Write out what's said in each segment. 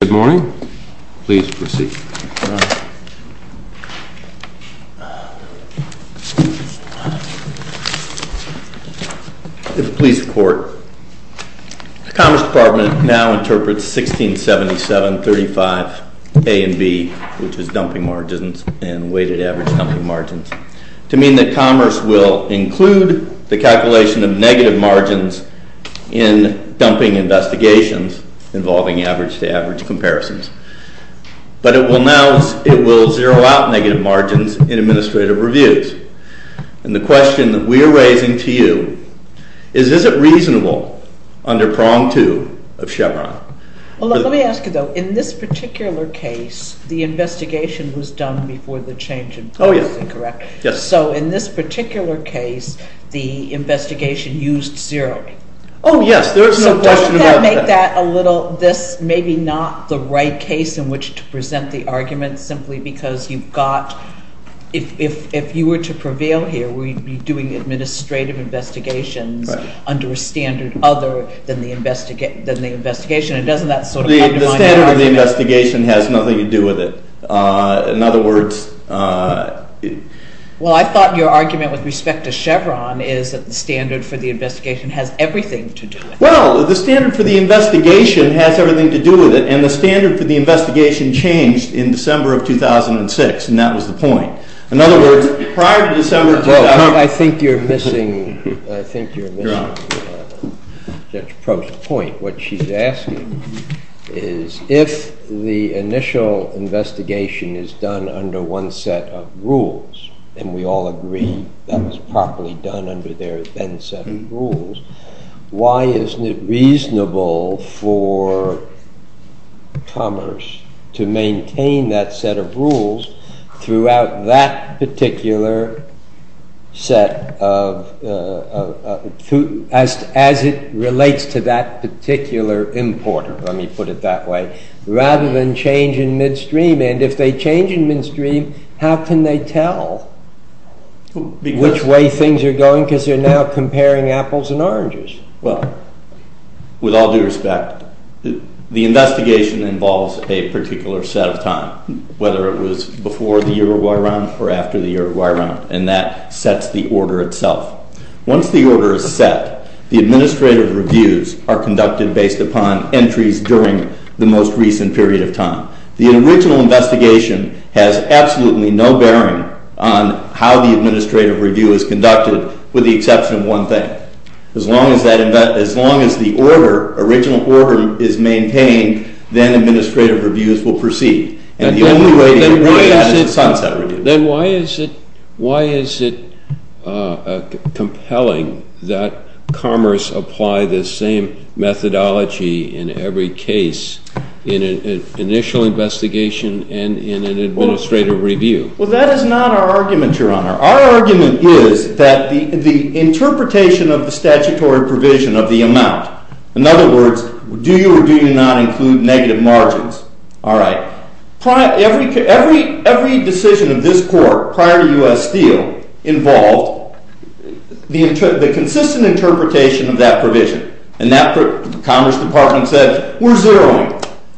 Good morning. Please proceed. If it please the Court, the Commerce Department now interprets 1677.35a and b, which is dumping margins and weighted average dumping margins, to mean that Commerce will include the calculation of negative margins in dumping investigations involving average-to-average comparisons. But it will now zero out negative margins in administrative reviews. And the question that we are raising to you is, is it reasonable under prong two of Chevron? Well, let me ask you though, in this particular case, the investigation was done before the change in policy, correct? Yes. So in this particular case, the investigation used zeroing. Oh, yes. There is no question about that. So don't that make that a little, this maybe not the right case in which to present the argument simply because you've got, if you were to prevail here, we'd be doing administrative investigations under a standard other than the investigation. And doesn't that sort of undermine the argument? The standard of the investigation has nothing to do with it. In other words… Well, I thought your argument with respect to Chevron is that the standard for the investigation has everything to do with it. Well, the standard for the investigation has everything to do with it. And the standard for the investigation changed in December of 2006, and that was the point. In other words, prior to December… Well, I think you're missing, I think you're missing Judge Prost's point. What she's asking is, if the initial investigation is done under one set of rules, and we all agree that was properly done under their then set of rules, why isn't it reasonable for commerce to maintain that set of rules throughout that particular set of, as it relates to that particular importer, let me put it that way, rather than change in midstream. And if they change in midstream, how can they tell which way things are going? Because they're now comparing apples and oranges. Well, with all due respect, the investigation involves a particular set of time, whether it was before the Uruguay Round or after the Uruguay Round, and that sets the order itself. Once the order is set, the administrative reviews are conducted based upon entries during the most recent period of time. The original investigation has absolutely no bearing on how the administrative review is conducted, with the exception of one thing. As long as that, as long as the order, original order, is maintained, then administrative reviews will proceed. Then why is it compelling that commerce apply this same methodology in every case, in an initial investigation and in an administrative review? Well, that is not our argument, Your Honor. Our argument is that the interpretation of the statutory provision of the amount, in other words, do you or do you not include negative margins? All right. Every decision of this court prior to U.S. Steel involved the consistent interpretation of that provision. And that, the Commerce Department said, we're zeroing.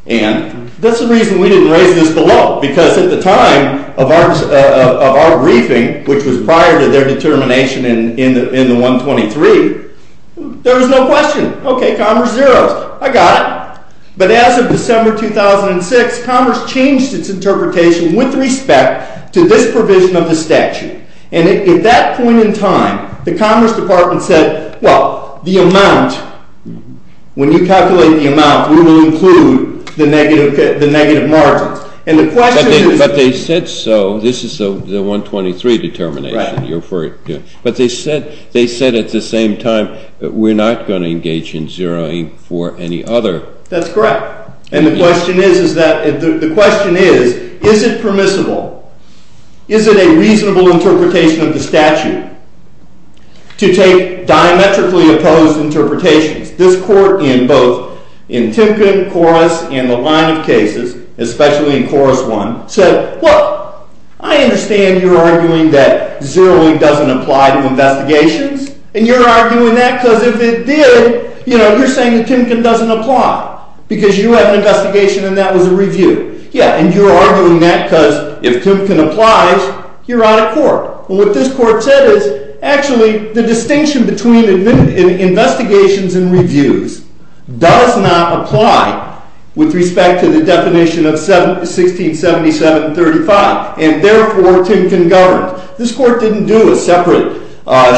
And that's the reason we didn't raise this below, because at the time of our briefing, which was prior to their determination in the 123, there was no question. Okay, commerce zeroes. I got it. But as of December 2006, commerce changed its interpretation with respect to this provision of the statute. And at that point in time, the Commerce Department said, well, the amount, when you calculate the amount, we will include the negative margins. And the question is— But they said so. This is the 123 determination you referred to. Right. But they said at the same time that we're not going to engage in zeroing for any other— That's correct. And the question is, is that—the question is, is it permissible, is it a reasonable interpretation of the statute to take diametrically opposed interpretations? This court in both in Timken, Corus, and the line of cases, especially in Corus I, said, well, I understand you're arguing that zeroing doesn't apply to investigations, and you're arguing that because if it did, you know, you're saying that Timken doesn't apply, because you have an investigation and that was a review. Yeah, and you're arguing that because if Timken applies, you're out of court. And what this court said is, actually, the distinction between investigations and reviews does not apply with respect to the definition of 1677 and 35. And therefore, Timken governs. This court didn't do a separate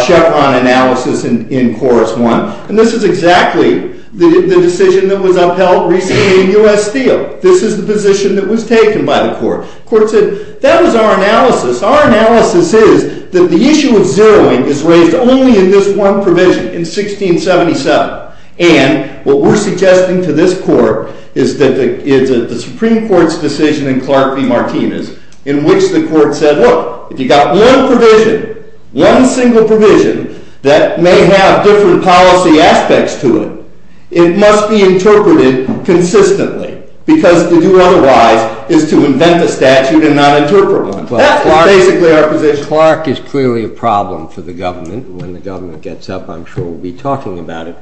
Chevron analysis in Corus I. And this is exactly the decision that was upheld recently in U.S. Steel. This is the position that was taken by the court. The court said, that was our analysis. Our analysis is that the issue of zeroing is raised only in this one provision in 1677. And what we're suggesting to this court is that the Supreme Court's decision in Clark v. Martinez, in which the court said, look, if you've got one provision, one single provision, that may have different policy aspects to it, it must be interpreted consistently, because to do otherwise is to invent the statute and not interpret one. That's basically our position. Clark is clearly a problem for the government. When the government gets up, I'm sure we'll be talking about it.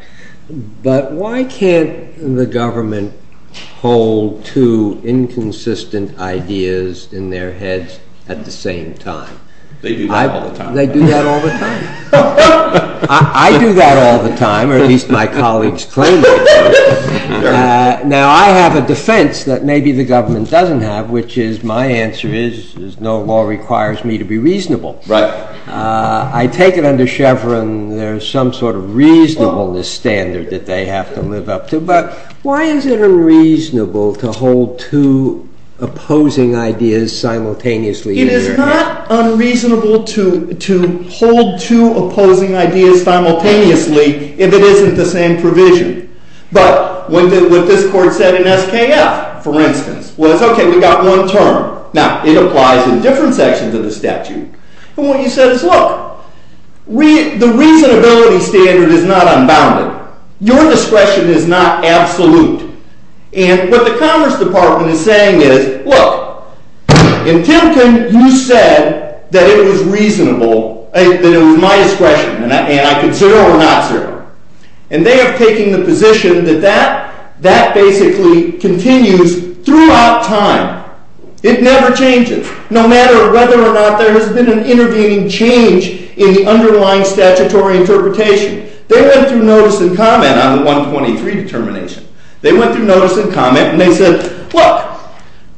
But why can't the government hold two inconsistent ideas in their heads at the same time? They do that all the time. They do that all the time. I do that all the time, or at least my colleagues claim it. Now, I have a defense that maybe the government doesn't have, which is, my answer is, no law requires me to be reasonable. Right. I take it under Chevron there's some sort of reasonableness standard that they have to live up to. But why is it unreasonable to hold two opposing ideas simultaneously? It is not unreasonable to hold two opposing ideas simultaneously if it isn't the same provision. But what this court said in SKF, for instance, was, okay, we've got one term. Now, it applies in different sections of the statute. And what you said is, look, the reasonability standard is not unbounded. Your discretion is not absolute. And what the Commerce Department is saying is, look, in Timken, you said that it was reasonable, that it was my discretion, and I could zero or not zero. And they are taking the position that that basically continues throughout time. It never changes, no matter whether or not there has been an intervening change in the underlying statutory interpretation. They went through notice and comment on the 123 determination. They went through notice and comment, and they said, look,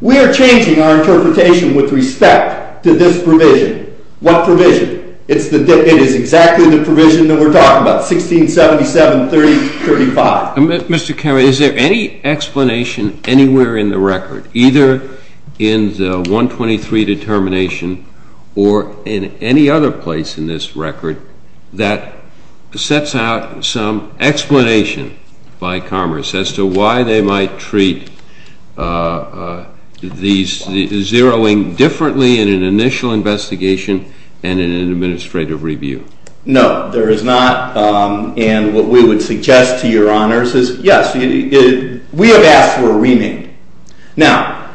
we are changing our interpretation with respect to this provision. What provision? It is exactly the provision that we're talking about, 1677.30.35. Mr. Kerry, is there any explanation anywhere in the record, either in the 123 determination or in any other place in this record that sets out some explanation by Commerce as to why they might treat these zeroing differently in an initial investigation and in an administrative review? No, there is not. And what we would suggest to your honors is, yes, we have asked for a remand. Now,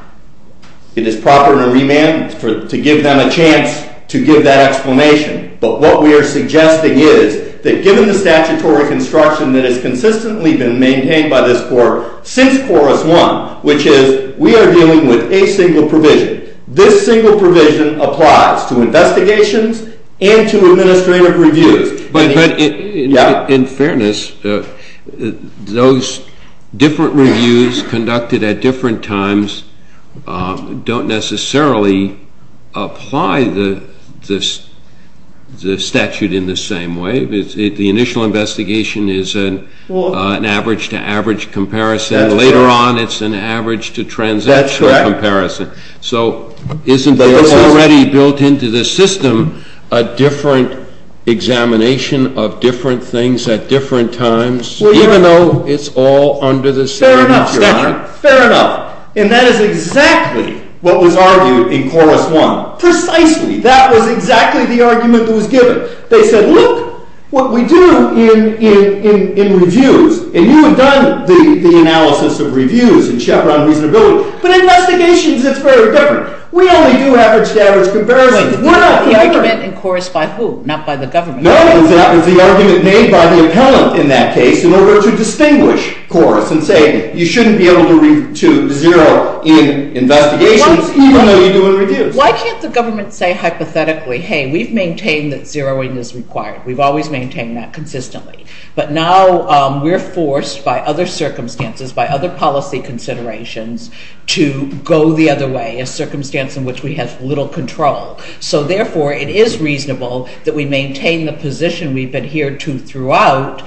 it is proper in a remand to give them a chance to give that explanation. But what we are suggesting is that given the statutory construction that has consistently been maintained by this court since Chorus I, which is we are dealing with a single provision, this single provision applies to investigations and to administrative reviews. But in fairness, those different reviews conducted at different times don't necessarily apply the statute in the same way. The initial investigation is an average to average comparison. Later on, it's an average to transactional comparison. That's correct. So isn't there already built into the system a different examination of different things at different times, even though it's all under the same statute? Fair enough. Fair enough. And that is exactly what was argued in Chorus I. Precisely. That was exactly the argument that was given. They said, look what we do in reviews. And you have done the analysis of reviews in Chevron Reasonability. But in investigations, it's very different. We only do average to average comparisons. Wait. The argument in Chorus by who? Not by the government. No. That was the argument made by the appellant in that case in order to distinguish Chorus and say you shouldn't be able to zero in investigations even though you do in reviews. Why can't the government say hypothetically, hey, we've maintained that zeroing is required. We've always maintained that consistently. But now we're forced by other circumstances, by other policy considerations to go the other way, a circumstance in which we have little control. So therefore, it is reasonable that we maintain the position we've adhered to throughout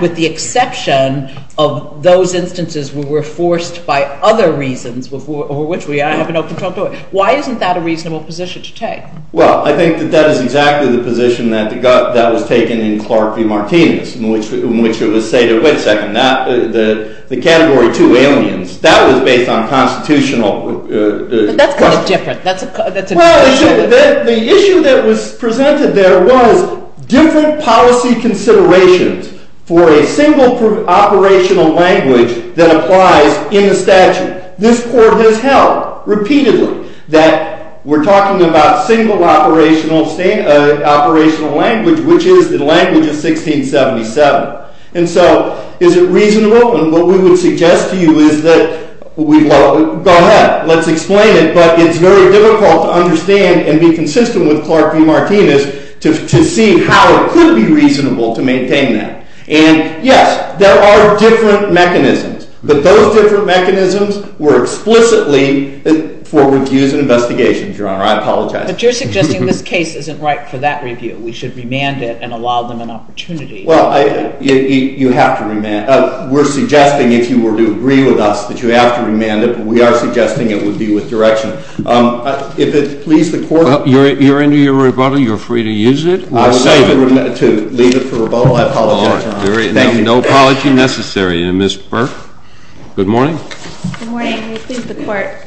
with the exception of those instances where we're forced by other reasons over which we have no control. Why isn't that a reasonable position to take? Well, I think that that is exactly the position that was taken in Clark v. Martinez, in which it was said, wait a second, the category two aliens, that was based on constitutional questions. But that's kind of different. That's a different issue. Well, the issue that was presented there was different policy considerations for a single operational language that applies in the statute. And this court has held, repeatedly, that we're talking about single operational language, which is the language of 1677. And so is it reasonable? And what we would suggest to you is that we go ahead, let's explain it. But it's very difficult to understand and be consistent with Clark v. Martinez to see how it could be reasonable to maintain that. And yes, there are different mechanisms. But those different mechanisms were explicitly for reviews and investigations, Your Honor. I apologize. But you're suggesting this case isn't right for that review. We should remand it and allow them an opportunity. Well, you have to remand it. We're suggesting, if you were to agree with us, that you have to remand it. But we are suggesting it would be with direction. If it please the Court. Well, you're into your rebuttal. You're free to use it. I would like to leave it for rebuttal. I apologize, Your Honor. No apology necessary. And Ms. Burke, good morning. Good morning. It please the Court.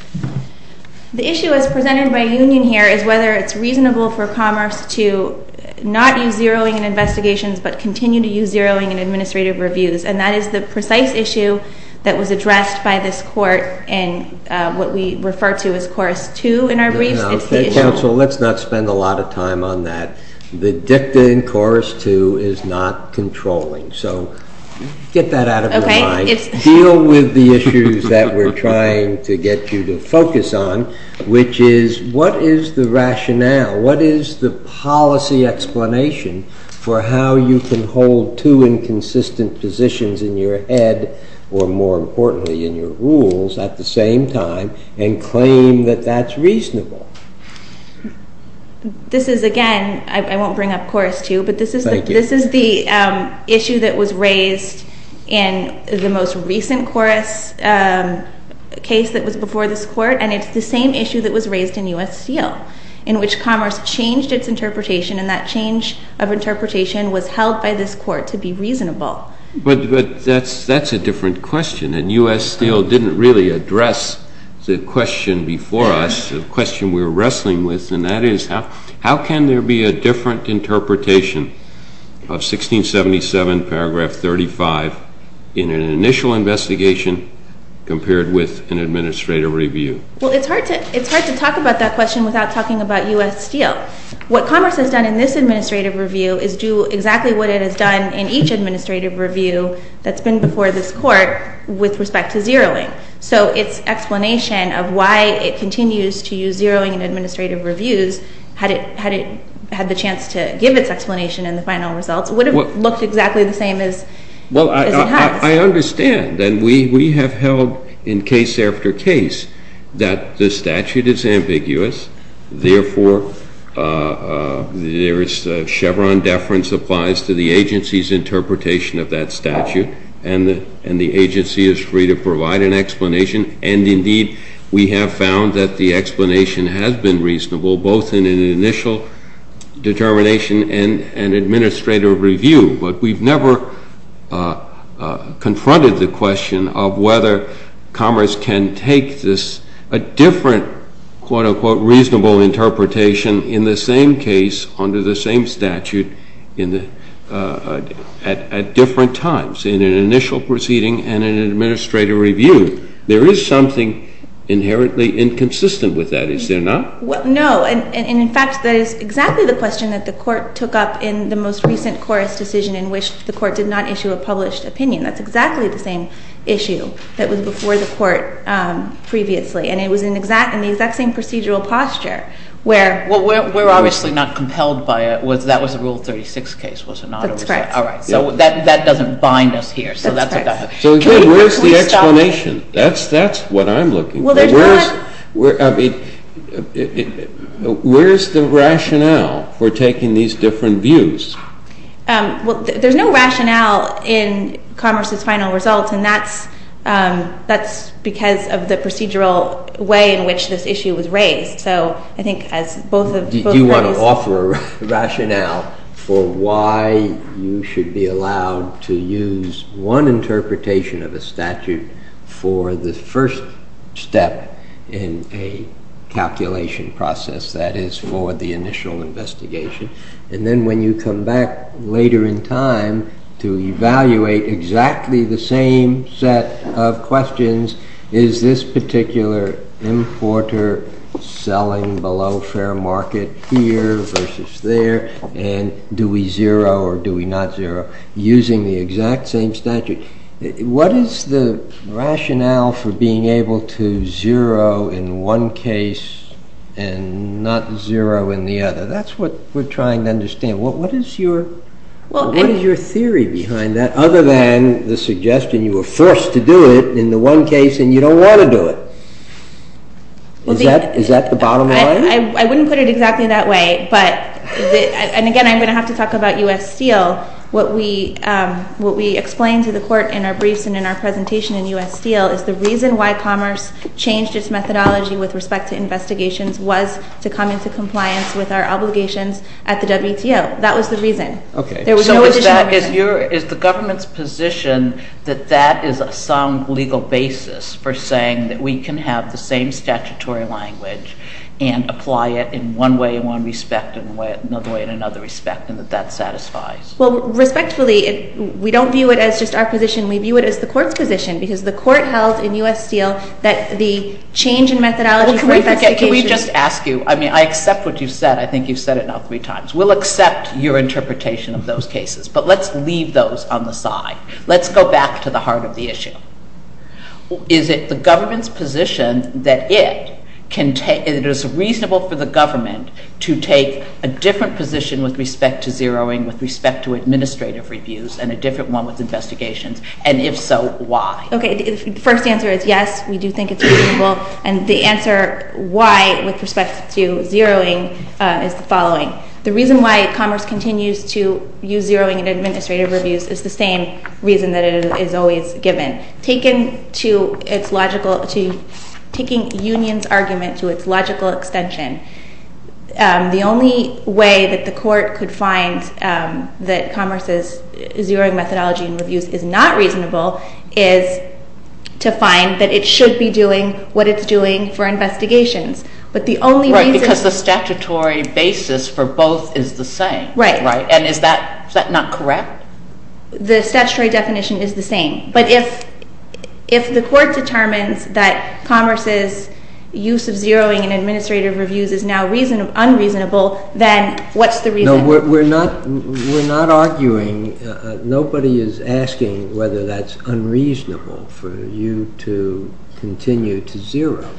The issue as presented by union here is whether it's reasonable for Commerce to not use zeroing in investigations but continue to use zeroing in administrative reviews. And that is the precise issue that was addressed by this Court in what we refer to as Chorus 2 in our briefs. It's the issue. Okay, counsel, let's not spend a lot of time on that. The dicta in Chorus 2 is not controlling. So get that out of your mind. Okay. Deal with the issues that we're trying to get you to focus on, which is what is the rationale? What is the policy explanation for how you can hold two inconsistent positions in your head or, more importantly, in your rules at the same time and claim that that's reasonable? This is, again, I won't bring up Chorus 2, but this is the issue that was raised in the most recent Chorus case that was before this Court, and it's the same issue that was raised in U.S. Steel, in which Commerce changed its interpretation and that change of interpretation was held by this Court to be reasonable. But that's a different question. And U.S. Steel didn't really address the question before us. That's a question we were wrestling with, and that is how can there be a different interpretation of 1677 paragraph 35 in an initial investigation compared with an administrative review? Well, it's hard to talk about that question without talking about U.S. Steel. What Commerce has done in this administrative review is do exactly what it has done in each administrative review that's been before this Court with respect to zeroing. So its explanation of why it continues to use zeroing in administrative reviews, had it had the chance to give its explanation in the final results, would have looked exactly the same as it has. Well, I understand, and we have held in case after case that the statute is ambiguous. Therefore, Chevron deference applies to the agency's interpretation of that statute, and the agency is free to provide an explanation. And indeed, we have found that the explanation has been reasonable, both in an initial determination and an administrative review. But we've never confronted the question of whether Commerce can take this different, quote-unquote, reasonable interpretation in the same case under the same statute at different times, in an initial proceeding and an administrative review. There is something inherently inconsistent with that, is there not? Well, no. And in fact, that is exactly the question that the Court took up in the most recent Corris decision in which the Court did not issue a published opinion. That's exactly the same issue that was before the Court previously, and it was in the exact same procedural posture where— Well, we're obviously not compelled by it. That was a Rule 36 case, was it not? That's correct. All right. So that doesn't bind us here. That's correct. So again, where's the explanation? That's what I'm looking for. Where's the rationale for taking these different views? Well, there's no rationale in Commerce's final results, and that's because of the procedural way in which this issue was raised. So I think as both parties— in a calculation process, that is, for the initial investigation. And then when you come back later in time to evaluate exactly the same set of questions, is this particular importer selling below fair market here versus there, and do we zero or do we not zero using the exact same statute? What is the rationale for being able to zero in one case and not zero in the other? That's what we're trying to understand. What is your theory behind that other than the suggestion you were forced to do it in the one case and you don't want to do it? Is that the bottom line? I wouldn't put it exactly that way, but—and again, I'm going to have to talk about U.S. Steel. What we explain to the Court in our briefs and in our presentation in U.S. Steel is the reason why Commerce changed its methodology with respect to investigations was to come into compliance with our obligations at the WTO. That was the reason. Okay. There was no additional reason. So is the government's position that that is a sound legal basis for saying that we can have the same statutory language and apply it in one way in one respect and another way in another respect and that that satisfies? Well, respectfully, we don't view it as just our position. We view it as the Court's position because the Court held in U.S. Steel that the change in methodology for investigations— Well, can we just ask you—I mean, I accept what you've said. I think you've said it now three times. We'll accept your interpretation of those cases, but let's leave those on the side. Let's go back to the heart of the issue. Is it the government's position that it is reasonable for the government to take a different position with respect to zeroing, with respect to administrative reviews, and a different one with investigations? And if so, why? Okay. The first answer is yes, we do think it's reasonable. And the answer why, with respect to zeroing, is the following. The reason why Commerce continues to use zeroing in administrative reviews is the same reason that it is always given. Taken to its logical—taking Union's argument to its logical extension, the only way that the Court could find that Commerce's zeroing methodology in reviews is not reasonable is to find that it should be doing what it's doing for investigations. But the only reason— Right, because the statutory basis for both is the same. Right. And is that not correct? The statutory definition is the same. But if the Court determines that Commerce's use of zeroing in administrative reviews is now unreasonable, then what's the reason? No, we're not arguing—nobody is asking whether that's unreasonable for you to continue to zero.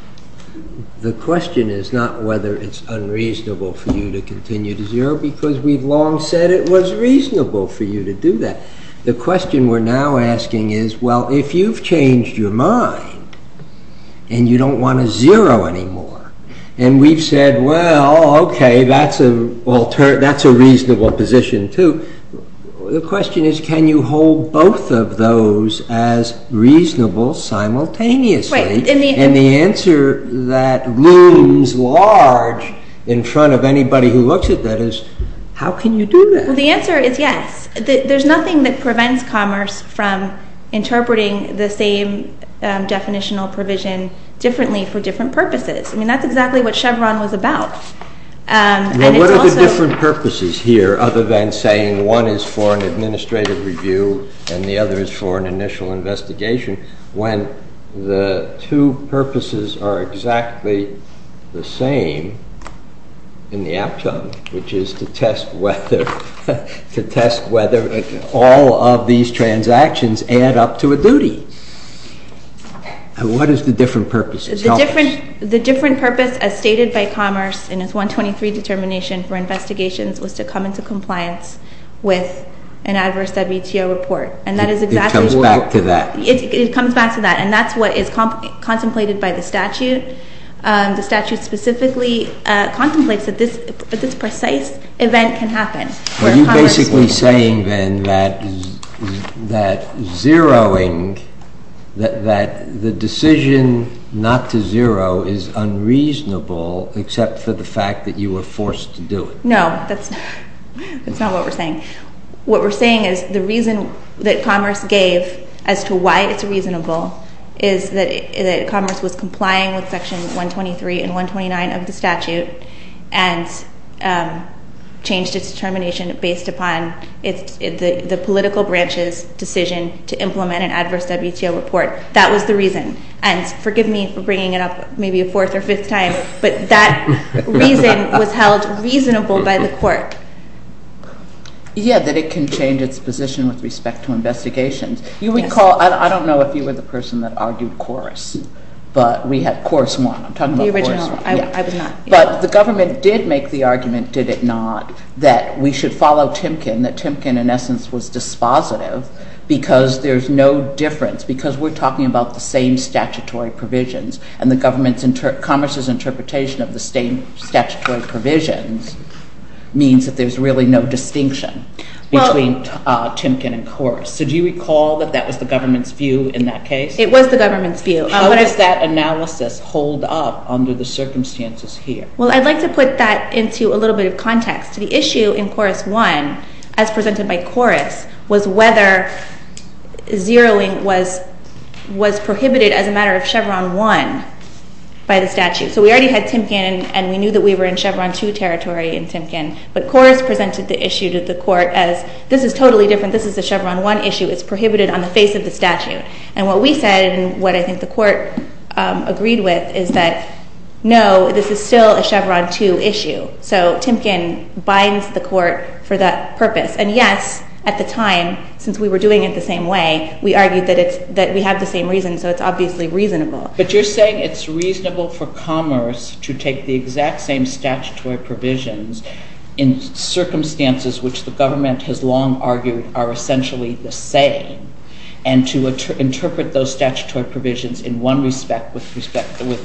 The question is not whether it's unreasonable for you to continue to zero, because we've long said it was reasonable for you to do that. The question we're now asking is, well, if you've changed your mind, and you don't want to zero anymore, and we've said, well, okay, that's a reasonable position too, the question is, can you hold both of those as reasonable simultaneously? Right. And the answer that looms large in front of anybody who looks at that is, how can you do that? Well, the answer is yes. There's nothing that prevents Commerce from interpreting the same definitional provision differently for different purposes. I mean, that's exactly what Chevron was about. And it's also— other than saying one is for an administrative review and the other is for an initial investigation, when the two purposes are exactly the same in the APTCHA, which is to test whether all of these transactions add up to a duty. What is the different purpose of Commerce? And its 123 determination for investigations was to come into compliance with an adverse WTO report. And that is exactly what— It comes back to that. It comes back to that. And that's what is contemplated by the statute. The statute specifically contemplates that this precise event can happen. Are you basically saying, then, that zeroing—that the decision not to zero is unreasonable except for the fact that you were forced to do it? No. That's not what we're saying. What we're saying is the reason that Commerce gave as to why it's reasonable is that Commerce was complying with Section 123 and 129 of the statute and changed its determination based upon the political branch's decision to implement an adverse WTO report. That was the reason. And forgive me for bringing it up maybe a fourth or fifth time, but that reason was held reasonable by the court. Yeah, that it can change its position with respect to investigations. You recall—I don't know if you were the person that argued Corus, but we had Corus I. I'm talking about Corus I. The original—I was not. But the government did make the argument, did it not, that we should follow Timken, that Timken, in essence, was dispositive because there's no difference, because we're talking about the same statutory provisions. And the government's—Commerce's interpretation of the same statutory provisions means that there's really no distinction between Timken and Corus. So do you recall that that was the government's view in that case? It was the government's view. How does that analysis hold up under the circumstances here? Well, I'd like to put that into a little bit of context. The issue in Corus I, as presented by Corus, was whether zeroing was prohibited as a matter of Chevron I by the statute. So we already had Timken, and we knew that we were in Chevron II territory in Timken, but Corus presented the issue to the court as, this is totally different. This is a Chevron I issue. It's prohibited on the face of the statute. And what we said, and what I think the court agreed with, is that, no, this is still a Chevron II issue. So Timken binds the court for that purpose. And, yes, at the time, since we were doing it the same way, we argued that we have the same reason, so it's obviously reasonable. But you're saying it's reasonable for Commerce to take the exact same statutory provisions in circumstances which the government has long argued are essentially the same, and to interpret those statutory provisions in one respect with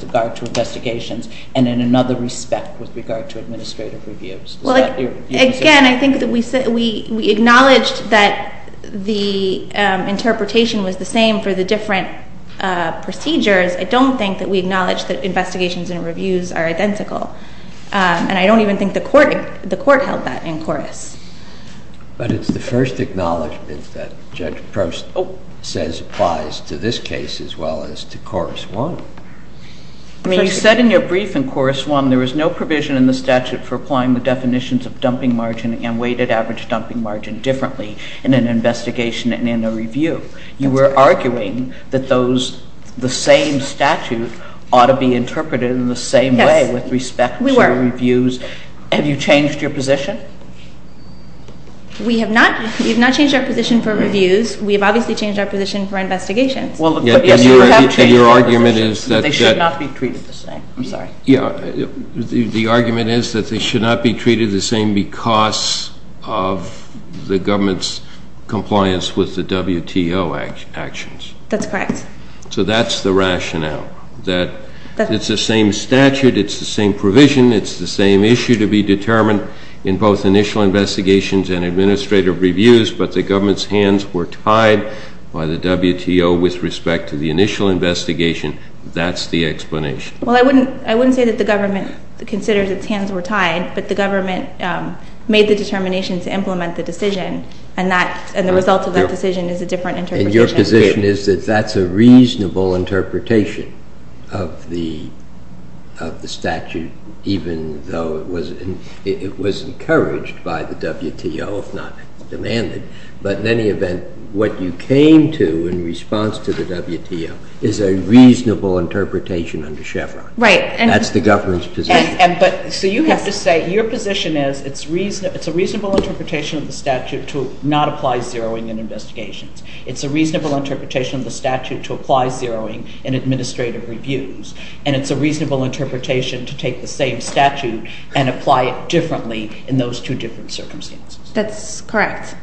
regard to investigations and in another respect with regard to administrative reviews. Well, again, I think that we acknowledged that the interpretation was the same for the different procedures. I don't think that we acknowledge that investigations and reviews are identical. And I don't even think the court held that in Corus. But it's the first acknowledgment that Judge Prost says applies to this case as well as to Corus I. I mean, you said in your brief in Corus I there was no provision in the statute for applying the definitions of dumping margin and weighted average dumping margin differently in an investigation and in a review. You were arguing that those, the same statute, ought to be interpreted in the same way with respect to reviews. Yes, we were. Have you changed your position? We have not. We have not changed our position for reviews. We have obviously changed our position for investigations. And your argument is that they should not be treated the same. I'm sorry. Yeah, the argument is that they should not be treated the same because of the government's compliance with the WTO actions. That's correct. So that's the rationale, that it's the same statute, it's the same provision, it's the same issue to be determined in both initial investigations and administrative reviews, but the government's hands were tied by the WTO with respect to the initial investigation. That's the explanation. Well, I wouldn't say that the government considers its hands were tied, but the government made the determination to implement the decision, and the result of that decision is a different interpretation. And your position is that that's a reasonable interpretation of the statute, even though it was encouraged by the WTO, if not demanded. But in any event, what you came to in response to the WTO is a reasonable interpretation under Chevron. Right. That's the government's position. So you have to say your position is it's a reasonable interpretation of the statute to not apply zeroing in investigations. It's a reasonable interpretation of the statute to apply zeroing in administrative reviews, and it's a reasonable interpretation to take the same statute and apply it differently in those two different circumstances. That's correct.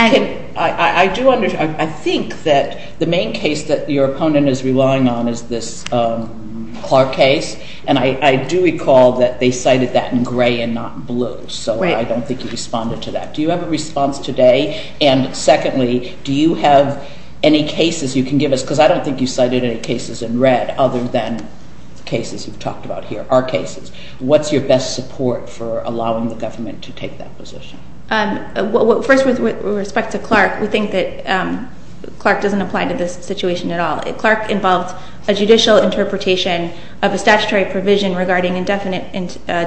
I think that the main case that your opponent is relying on is this Clark case, and I do recall that they cited that in gray and not blue, so I don't think you responded to that. Do you have a response today? And secondly, do you have any cases you can give us? Because I don't think you cited any cases in red other than cases you've talked about here, our cases. What's your best support for allowing the government to take that position? First, with respect to Clark, we think that Clark doesn't apply to this situation at all. Clark involved a judicial interpretation of a statutory provision regarding indefinite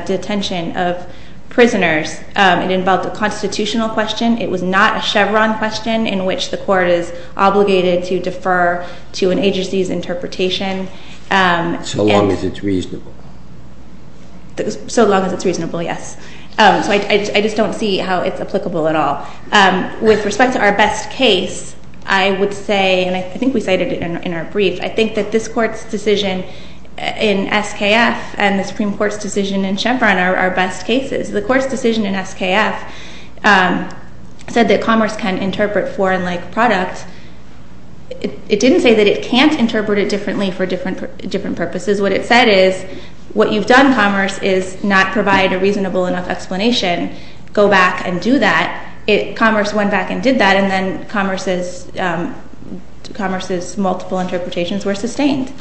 detention of prisoners. It involved a constitutional question. It was not a Chevron question in which the court is obligated to defer to an agency's interpretation. So long as it's reasonable. So long as it's reasonable, yes. So I just don't see how it's applicable at all. With respect to our best case, I would say, and I think we cited it in our brief, I think that this Court's decision in SKF and the Supreme Court's decision in Chevron are best cases. The Court's decision in SKF said that commerce can interpret foreign-like products. It didn't say that it can't interpret it differently for different purposes. What it said is what you've done, commerce, is not provide a reasonable enough explanation. Go back and do that. Commerce went back and did that, and then commerce's multiple interpretations were sustained.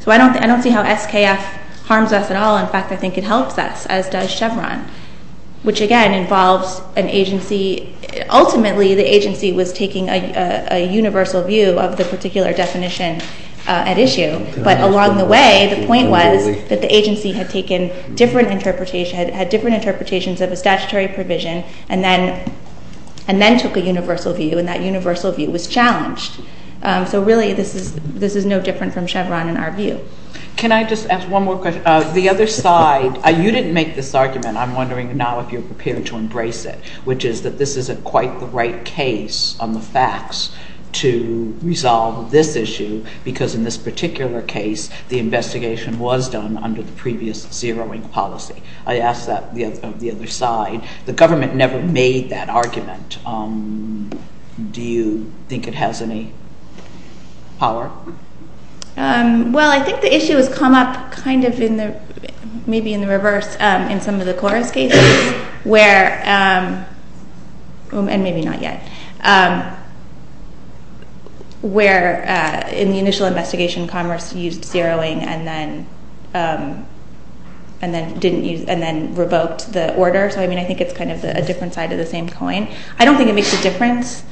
So I don't see how SKF harms us at all. In fact, I think it helps us, as does Chevron, which, again, involves an agency. Ultimately, the agency was taking a universal view of the particular definition at issue. But along the way, the point was that the agency had taken different interpretations, had different interpretations of a statutory provision, and then took a universal view, and that universal view was challenged. So really this is no different from Chevron in our view. Can I just ask one more question? The other side, you didn't make this argument. I'm wondering now if you're prepared to embrace it, which is that this isn't quite the right case on the facts to resolve this issue because in this particular case the investigation was done under the previous zeroing policy. I ask that of the other side. The government never made that argument. Do you think it has any power? Well, I think the issue has come up kind of maybe in the reverse in some of the KORUS cases where, and maybe not yet, where in the initial investigation Commerce used zeroing and then revoked the order. So, I mean, I think it's kind of a different side of the same coin. I don't think it makes a difference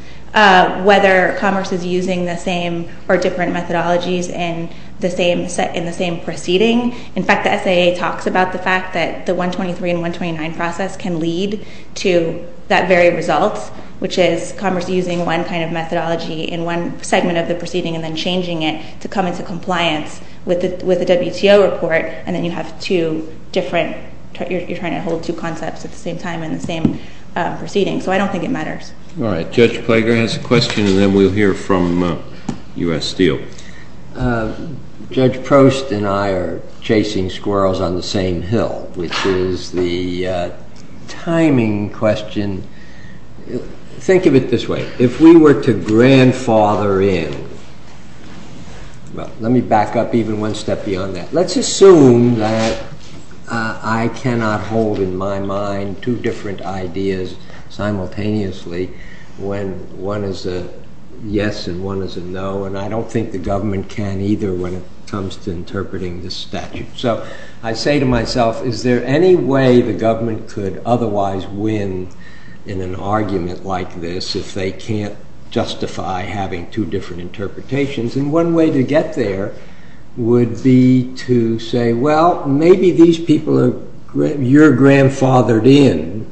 whether Commerce is using the same or different methodologies in the same proceeding. In fact, the SAA talks about the fact that the 123 and 129 process can lead to that very result, which is Commerce using one kind of methodology in one segment of the proceeding and then changing it to come into compliance with the WTO report, and then you have two different, you're trying to hold two concepts at the same time in the same proceeding. So I don't think it matters. All right. Judge Plager has a question and then we'll hear from U.S. Steel. Judge Prost and I are chasing squirrels on the same hill, which is the timing question. Think of it this way. If we were to grandfather in, well, let me back up even one step beyond that. Let's assume that I cannot hold in my mind two different ideas simultaneously when one is a yes and one is a no, and I don't think the government can either when it comes to interpreting this statute. So I say to myself, is there any way the government could otherwise win in an argument like this if they can't justify having two different interpretations? And one way to get there would be to say, well, maybe these people are, you're grandfathered in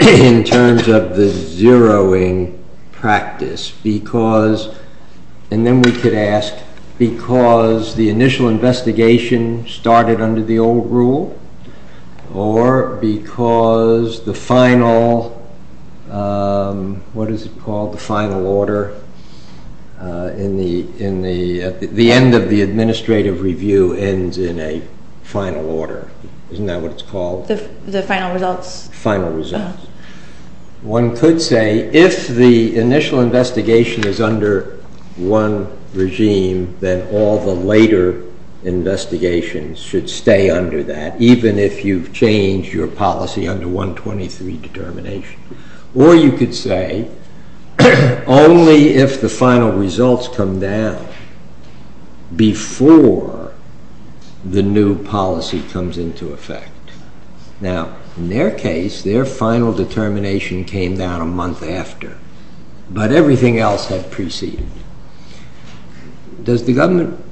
in terms of the zeroing practice because, and then we could ask, because the initial investigation started under the old rule or because the final, what is it called, the final order, the end of the administrative review ends in a final order. Isn't that what it's called? The final results. Final results. One could say if the initial investigation is under one regime, then all the later investigations should stay under that, even if you've changed your policy under 123 determination. Or you could say only if the final results come down before the new policy comes into effect. Now, in their case, their final determination came down a month after, but everything else had preceded. Does the government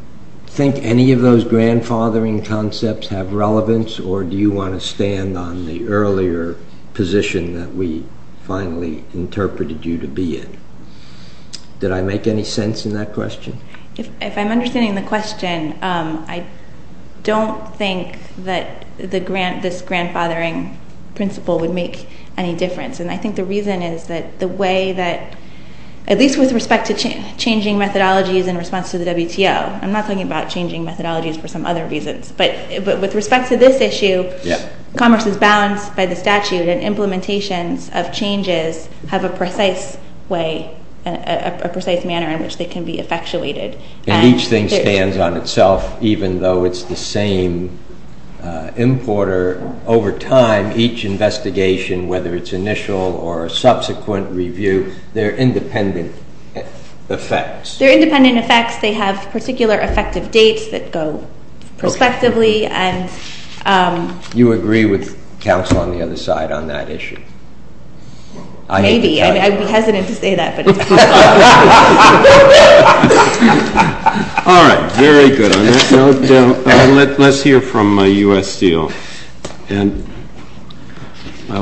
think any of those grandfathering concepts have relevance or do you want to stand on the earlier position that we finally interpreted you to be in? Did I make any sense in that question? If I'm understanding the question, I don't think that this grandfathering principle would make any difference, and I think the reason is that the way that, at least with respect to changing methodologies in response to the WTO, I'm not talking about changing methodologies for some other reasons, but with respect to this issue, commerce is balanced by the statute and implementations of changes have a precise way, a precise manner in which they can be effectuated. And each thing stands on itself, even though it's the same importer. Over time, each investigation, whether it's initial or a subsequent review, there are independent effects. There are independent effects. They have particular effective dates that go respectively. You agree with counsel on the other side on that issue? Maybe. I'd be hesitant to say that. All right. Very good on that. Now let's hear from U.S. Steel. And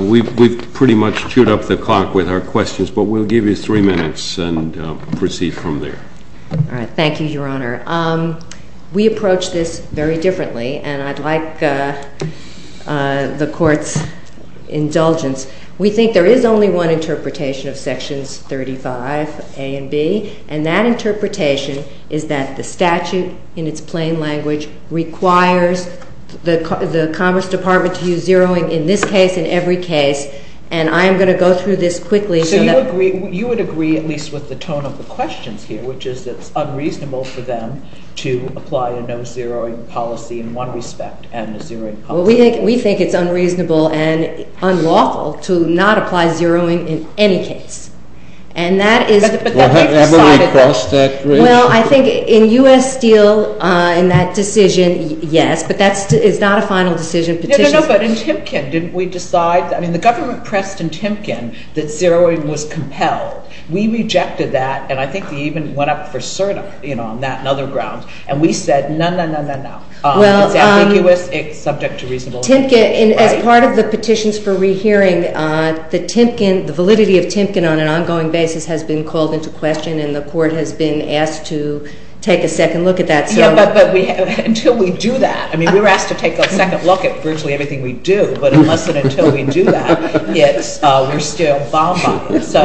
we've pretty much chewed up the clock with our questions, but we'll give you three minutes and proceed from there. All right. Thank you, Your Honor. We approach this very differently, and I'd like the Court's indulgence. We think there is only one interpretation of Sections 35A and B, and that interpretation is that the statute, in its plain language, requires the Commerce Department to use zeroing in this case and every case. And I am going to go through this quickly. So you would agree at least with the tone of the questions here, which is it's unreasonable for them to apply a no-zeroing policy in one respect and a zeroing policy in another. Well, we think it's unreasonable and unlawful to not apply zeroing in any case. But have we crossed that bridge? Well, I think in U.S. Steel, in that decision, yes, but it's not a final decision petition. No, no, no, but in Timken, didn't we decide? I mean, the government pressed in Timken that zeroing was compelled. We rejected that, and I think they even went up for cert on that and other grounds, and we said, no, no, no, no, no. It's ambiguous. It's subject to reasonableness. Timken, as part of the petitions for rehearing, the validity of Timken on an ongoing basis has been called into question, and the Court has been asked to take a second look at that. Yeah, but until we do that, I mean, we were asked to take a second look at virtually everything we do, but unless and until we do that, we're still bombarded. So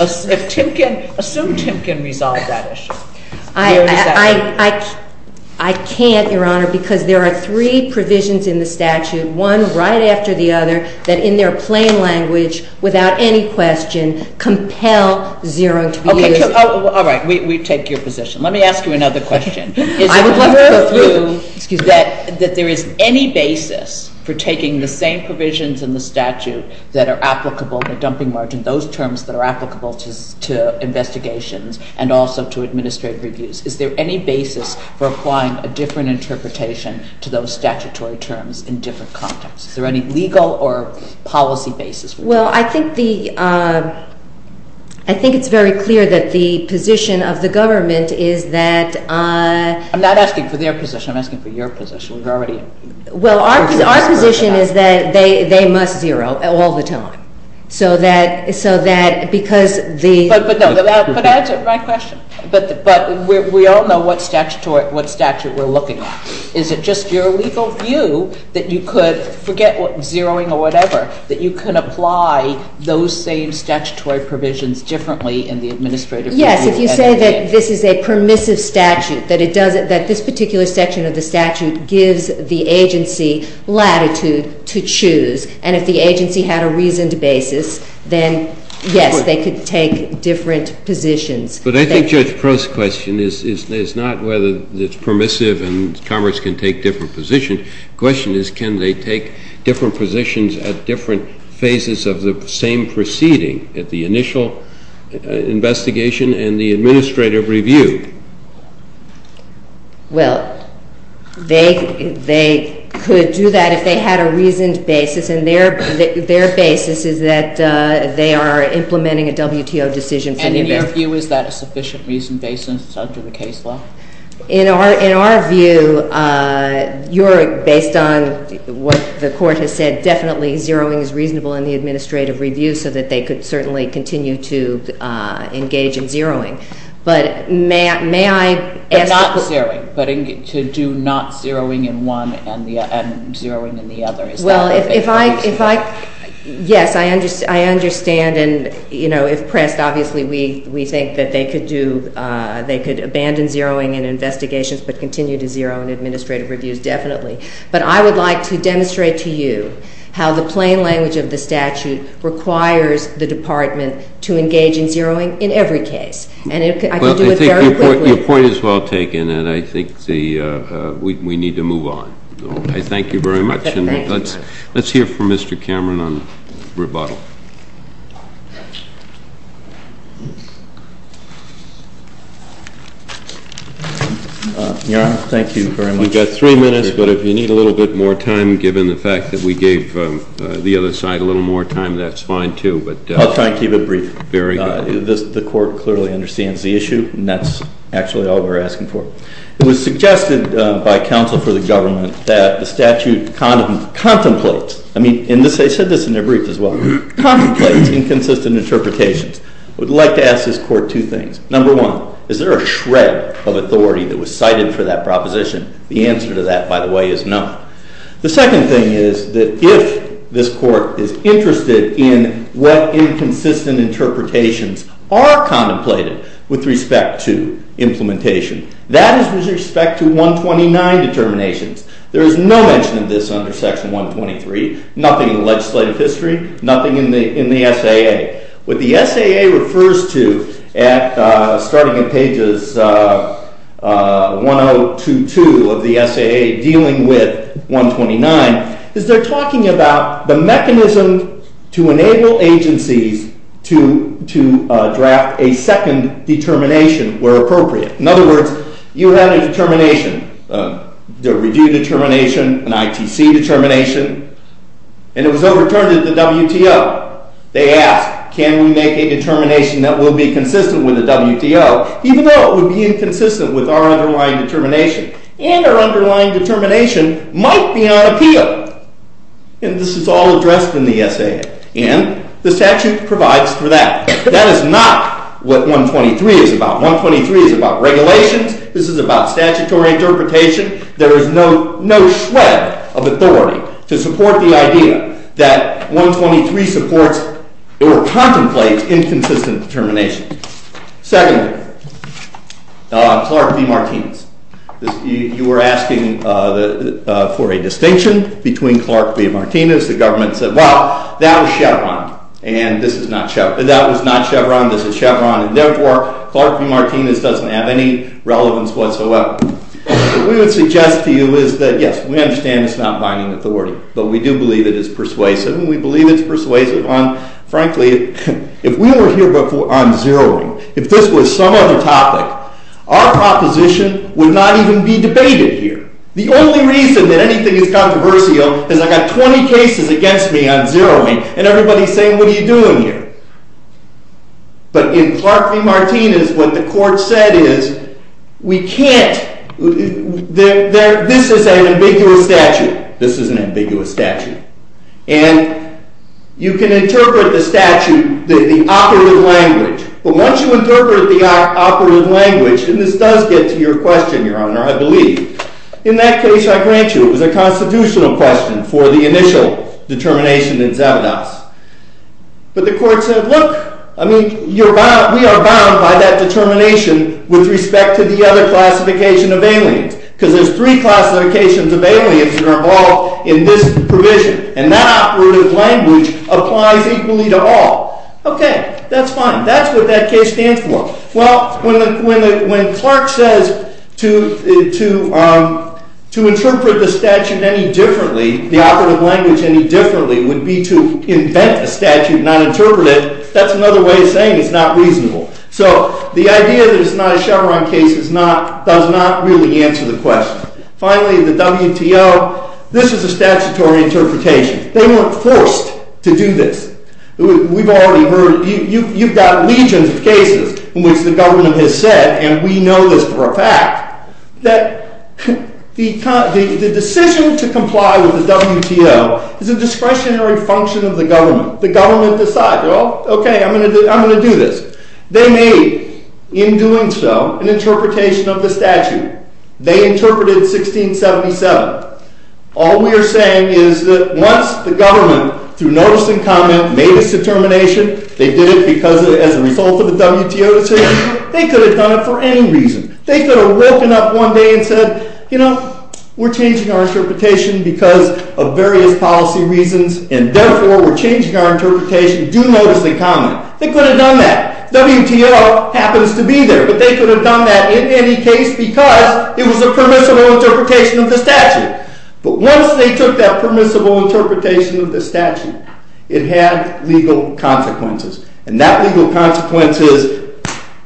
assume Timken resolved that issue. I can't, Your Honor, because there are three provisions in the statute, one right after the other, that in their plain language, without any question, compel zeroing to be used. All right. We take your position. Let me ask you another question. I would like to go through that there is any basis for taking the same provisions in the statute that are applicable, the dumping margin, those terms that are applicable to investigations and also to administrative reviews. Is there any basis for applying a different interpretation to those statutory terms in different contexts? Is there any legal or policy basis? Well, I think it's very clear that the position of the government is that— I'm not asking for their position. I'm asking for your position. We've already— Well, our position is that they must zero all the time, so that because the— But answer my question. But we all know what statute we're looking at. Is it just your legal view that you could forget zeroing or whatever, that you can apply those same statutory provisions differently in the administrative review? Yes. If you say that this is a permissive statute, that this particular section of the statute gives the agency latitude to choose, and if the agency had a reasoned basis, then yes, they could take different positions. But I think Judge Proulx's question is not whether it's permissive and Congress can take different positions. The question is can they take different positions at different phases of the same proceeding at the initial investigation and the administrative review? Well, they could do that if they had a reasoned basis, and their basis is that they are implementing a WTO decision from the— And in your view, is that a sufficient reasoned basis under the case law? In our view, you're—based on what the Court has said, definitely zeroing is reasonable in the administrative review so that they could certainly continue to engage in zeroing. But may I ask— But not zeroing, but to do not zeroing in one and zeroing in the other. Is that what they could do? Well, if I—yes, I understand, and, you know, if pressed, obviously we think that they could do—they could abandon zeroing in investigations but continue to zero in administrative reviews, definitely. But I would like to demonstrate to you how the plain language of the statute requires the Department to engage in zeroing in every case. And I could do it very quickly. Well, I think your point is well taken, and I think we need to move on. I thank you very much, and let's hear from Mr. Cameron on rebuttal. Your Honor, thank you very much. We've got three minutes, but if you need a little bit more time, given the fact that we gave the other side a little more time, that's fine too, but— I'll try and keep it brief. Very good. Well, the Court clearly understands the issue, and that's actually all we're asking for. It was suggested by counsel for the government that the statute contemplates— I mean, and they said this in their brief as well— contemplates inconsistent interpretations. I would like to ask this Court two things. Number one, is there a shred of authority that was cited for that proposition? The answer to that, by the way, is no. The second thing is that if this Court is interested in what inconsistent interpretations are contemplated with respect to implementation, that is with respect to 129 determinations. There is no mention of this under Section 123, nothing in legislative history, nothing in the SAA. What the SAA refers to, starting at pages 102-2 of the SAA dealing with 129, is they're talking about the mechanism to enable agencies to draft a second determination where appropriate. In other words, you had a determination, a review determination, an ITC determination, and it was overturned at the WTO. They asked, can we make a determination that will be consistent with the WTO, even though it would be inconsistent with our underlying determination, and our underlying determination might be on appeal? And this is all addressed in the SAA, and the statute provides for that. That is not what 123 is about. 123 is about regulations. This is about statutory interpretation. There is no shred of authority to support the idea that 123 supports or contemplates inconsistent determination. Secondly, Clark v. Martinez. You were asking for a distinction between Clark v. Martinez. The government said, well, that was Chevron, and this is not Chevron. That was not Chevron. This is Chevron, and therefore Clark v. Martinez doesn't have any relevance whatsoever. What we would suggest to you is that, yes, we understand it's not binding authority, but we do believe it is persuasive, and we believe it's persuasive on, frankly, if we were here before on zeroing, if this was some other topic, our proposition would not even be debated here. The only reason that anything is controversial is I've got 20 cases against me on zeroing, and everybody is saying, what are you doing here? But in Clark v. Martinez, what the court said is, we can't, this is an ambiguous statute. This is an ambiguous statute. And you can interpret the statute, the operative language. But once you interpret the operative language, and this does get to your question, Your Honor, I believe, in that case, I grant you, it was a constitutional question for the initial determination in Zabdos. But the court said, look, I mean, we are bound by that determination with respect to the other classification of aliens, because there's three classifications of aliens that are involved in this provision, and that operative language applies equally to all. Okay, that's fine. That's what that case stands for. Well, when Clark says to interpret the statute any differently, the operative language any differently, would be to invent a statute, not interpret it, that's another way of saying it's not reasonable. So the idea that it's not a Chevron case does not really answer the question. Finally, the WTO, this is a statutory interpretation. They weren't forced to do this. We've already heard, you've got legions of cases in which the government has said, and we know this for a fact, that the decision to comply with the WTO is a discretionary function of the government. The government decides, well, okay, I'm going to do this. They made, in doing so, an interpretation of the statute. They interpreted 1677. All we are saying is that once the government, through notice and comment, made its determination, they did it because as a result of the WTO decision, they could have done it for any reason. They could have woken up one day and said, you know, we're changing our interpretation because of various policy reasons, and therefore we're changing our interpretation. Do notice and comment. They could have done that. WTO happens to be there, but they could have done that in any case because it was a permissible interpretation of the statute. But once they took that permissible interpretation of the statute, it had legal consequences. And that legal consequence is,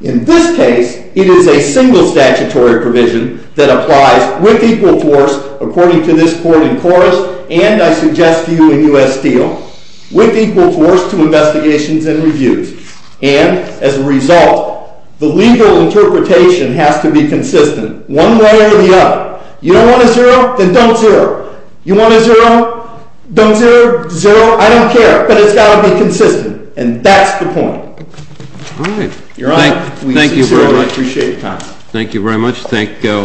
in this case, it is a single statutory provision that applies with equal force, according to this court in chorus, and I suggest to you in U.S. Steel, with equal force to investigations and reviews. And as a result, the legal interpretation has to be consistent one way or the other. You don't want a zero, then don't zero. You want a zero, don't zero. Zero, I don't care, but it's got to be consistent. And that's the point. All right. Your Honor, we see zero. Thank you very much. We appreciate your time. Thank you very much. Thank you.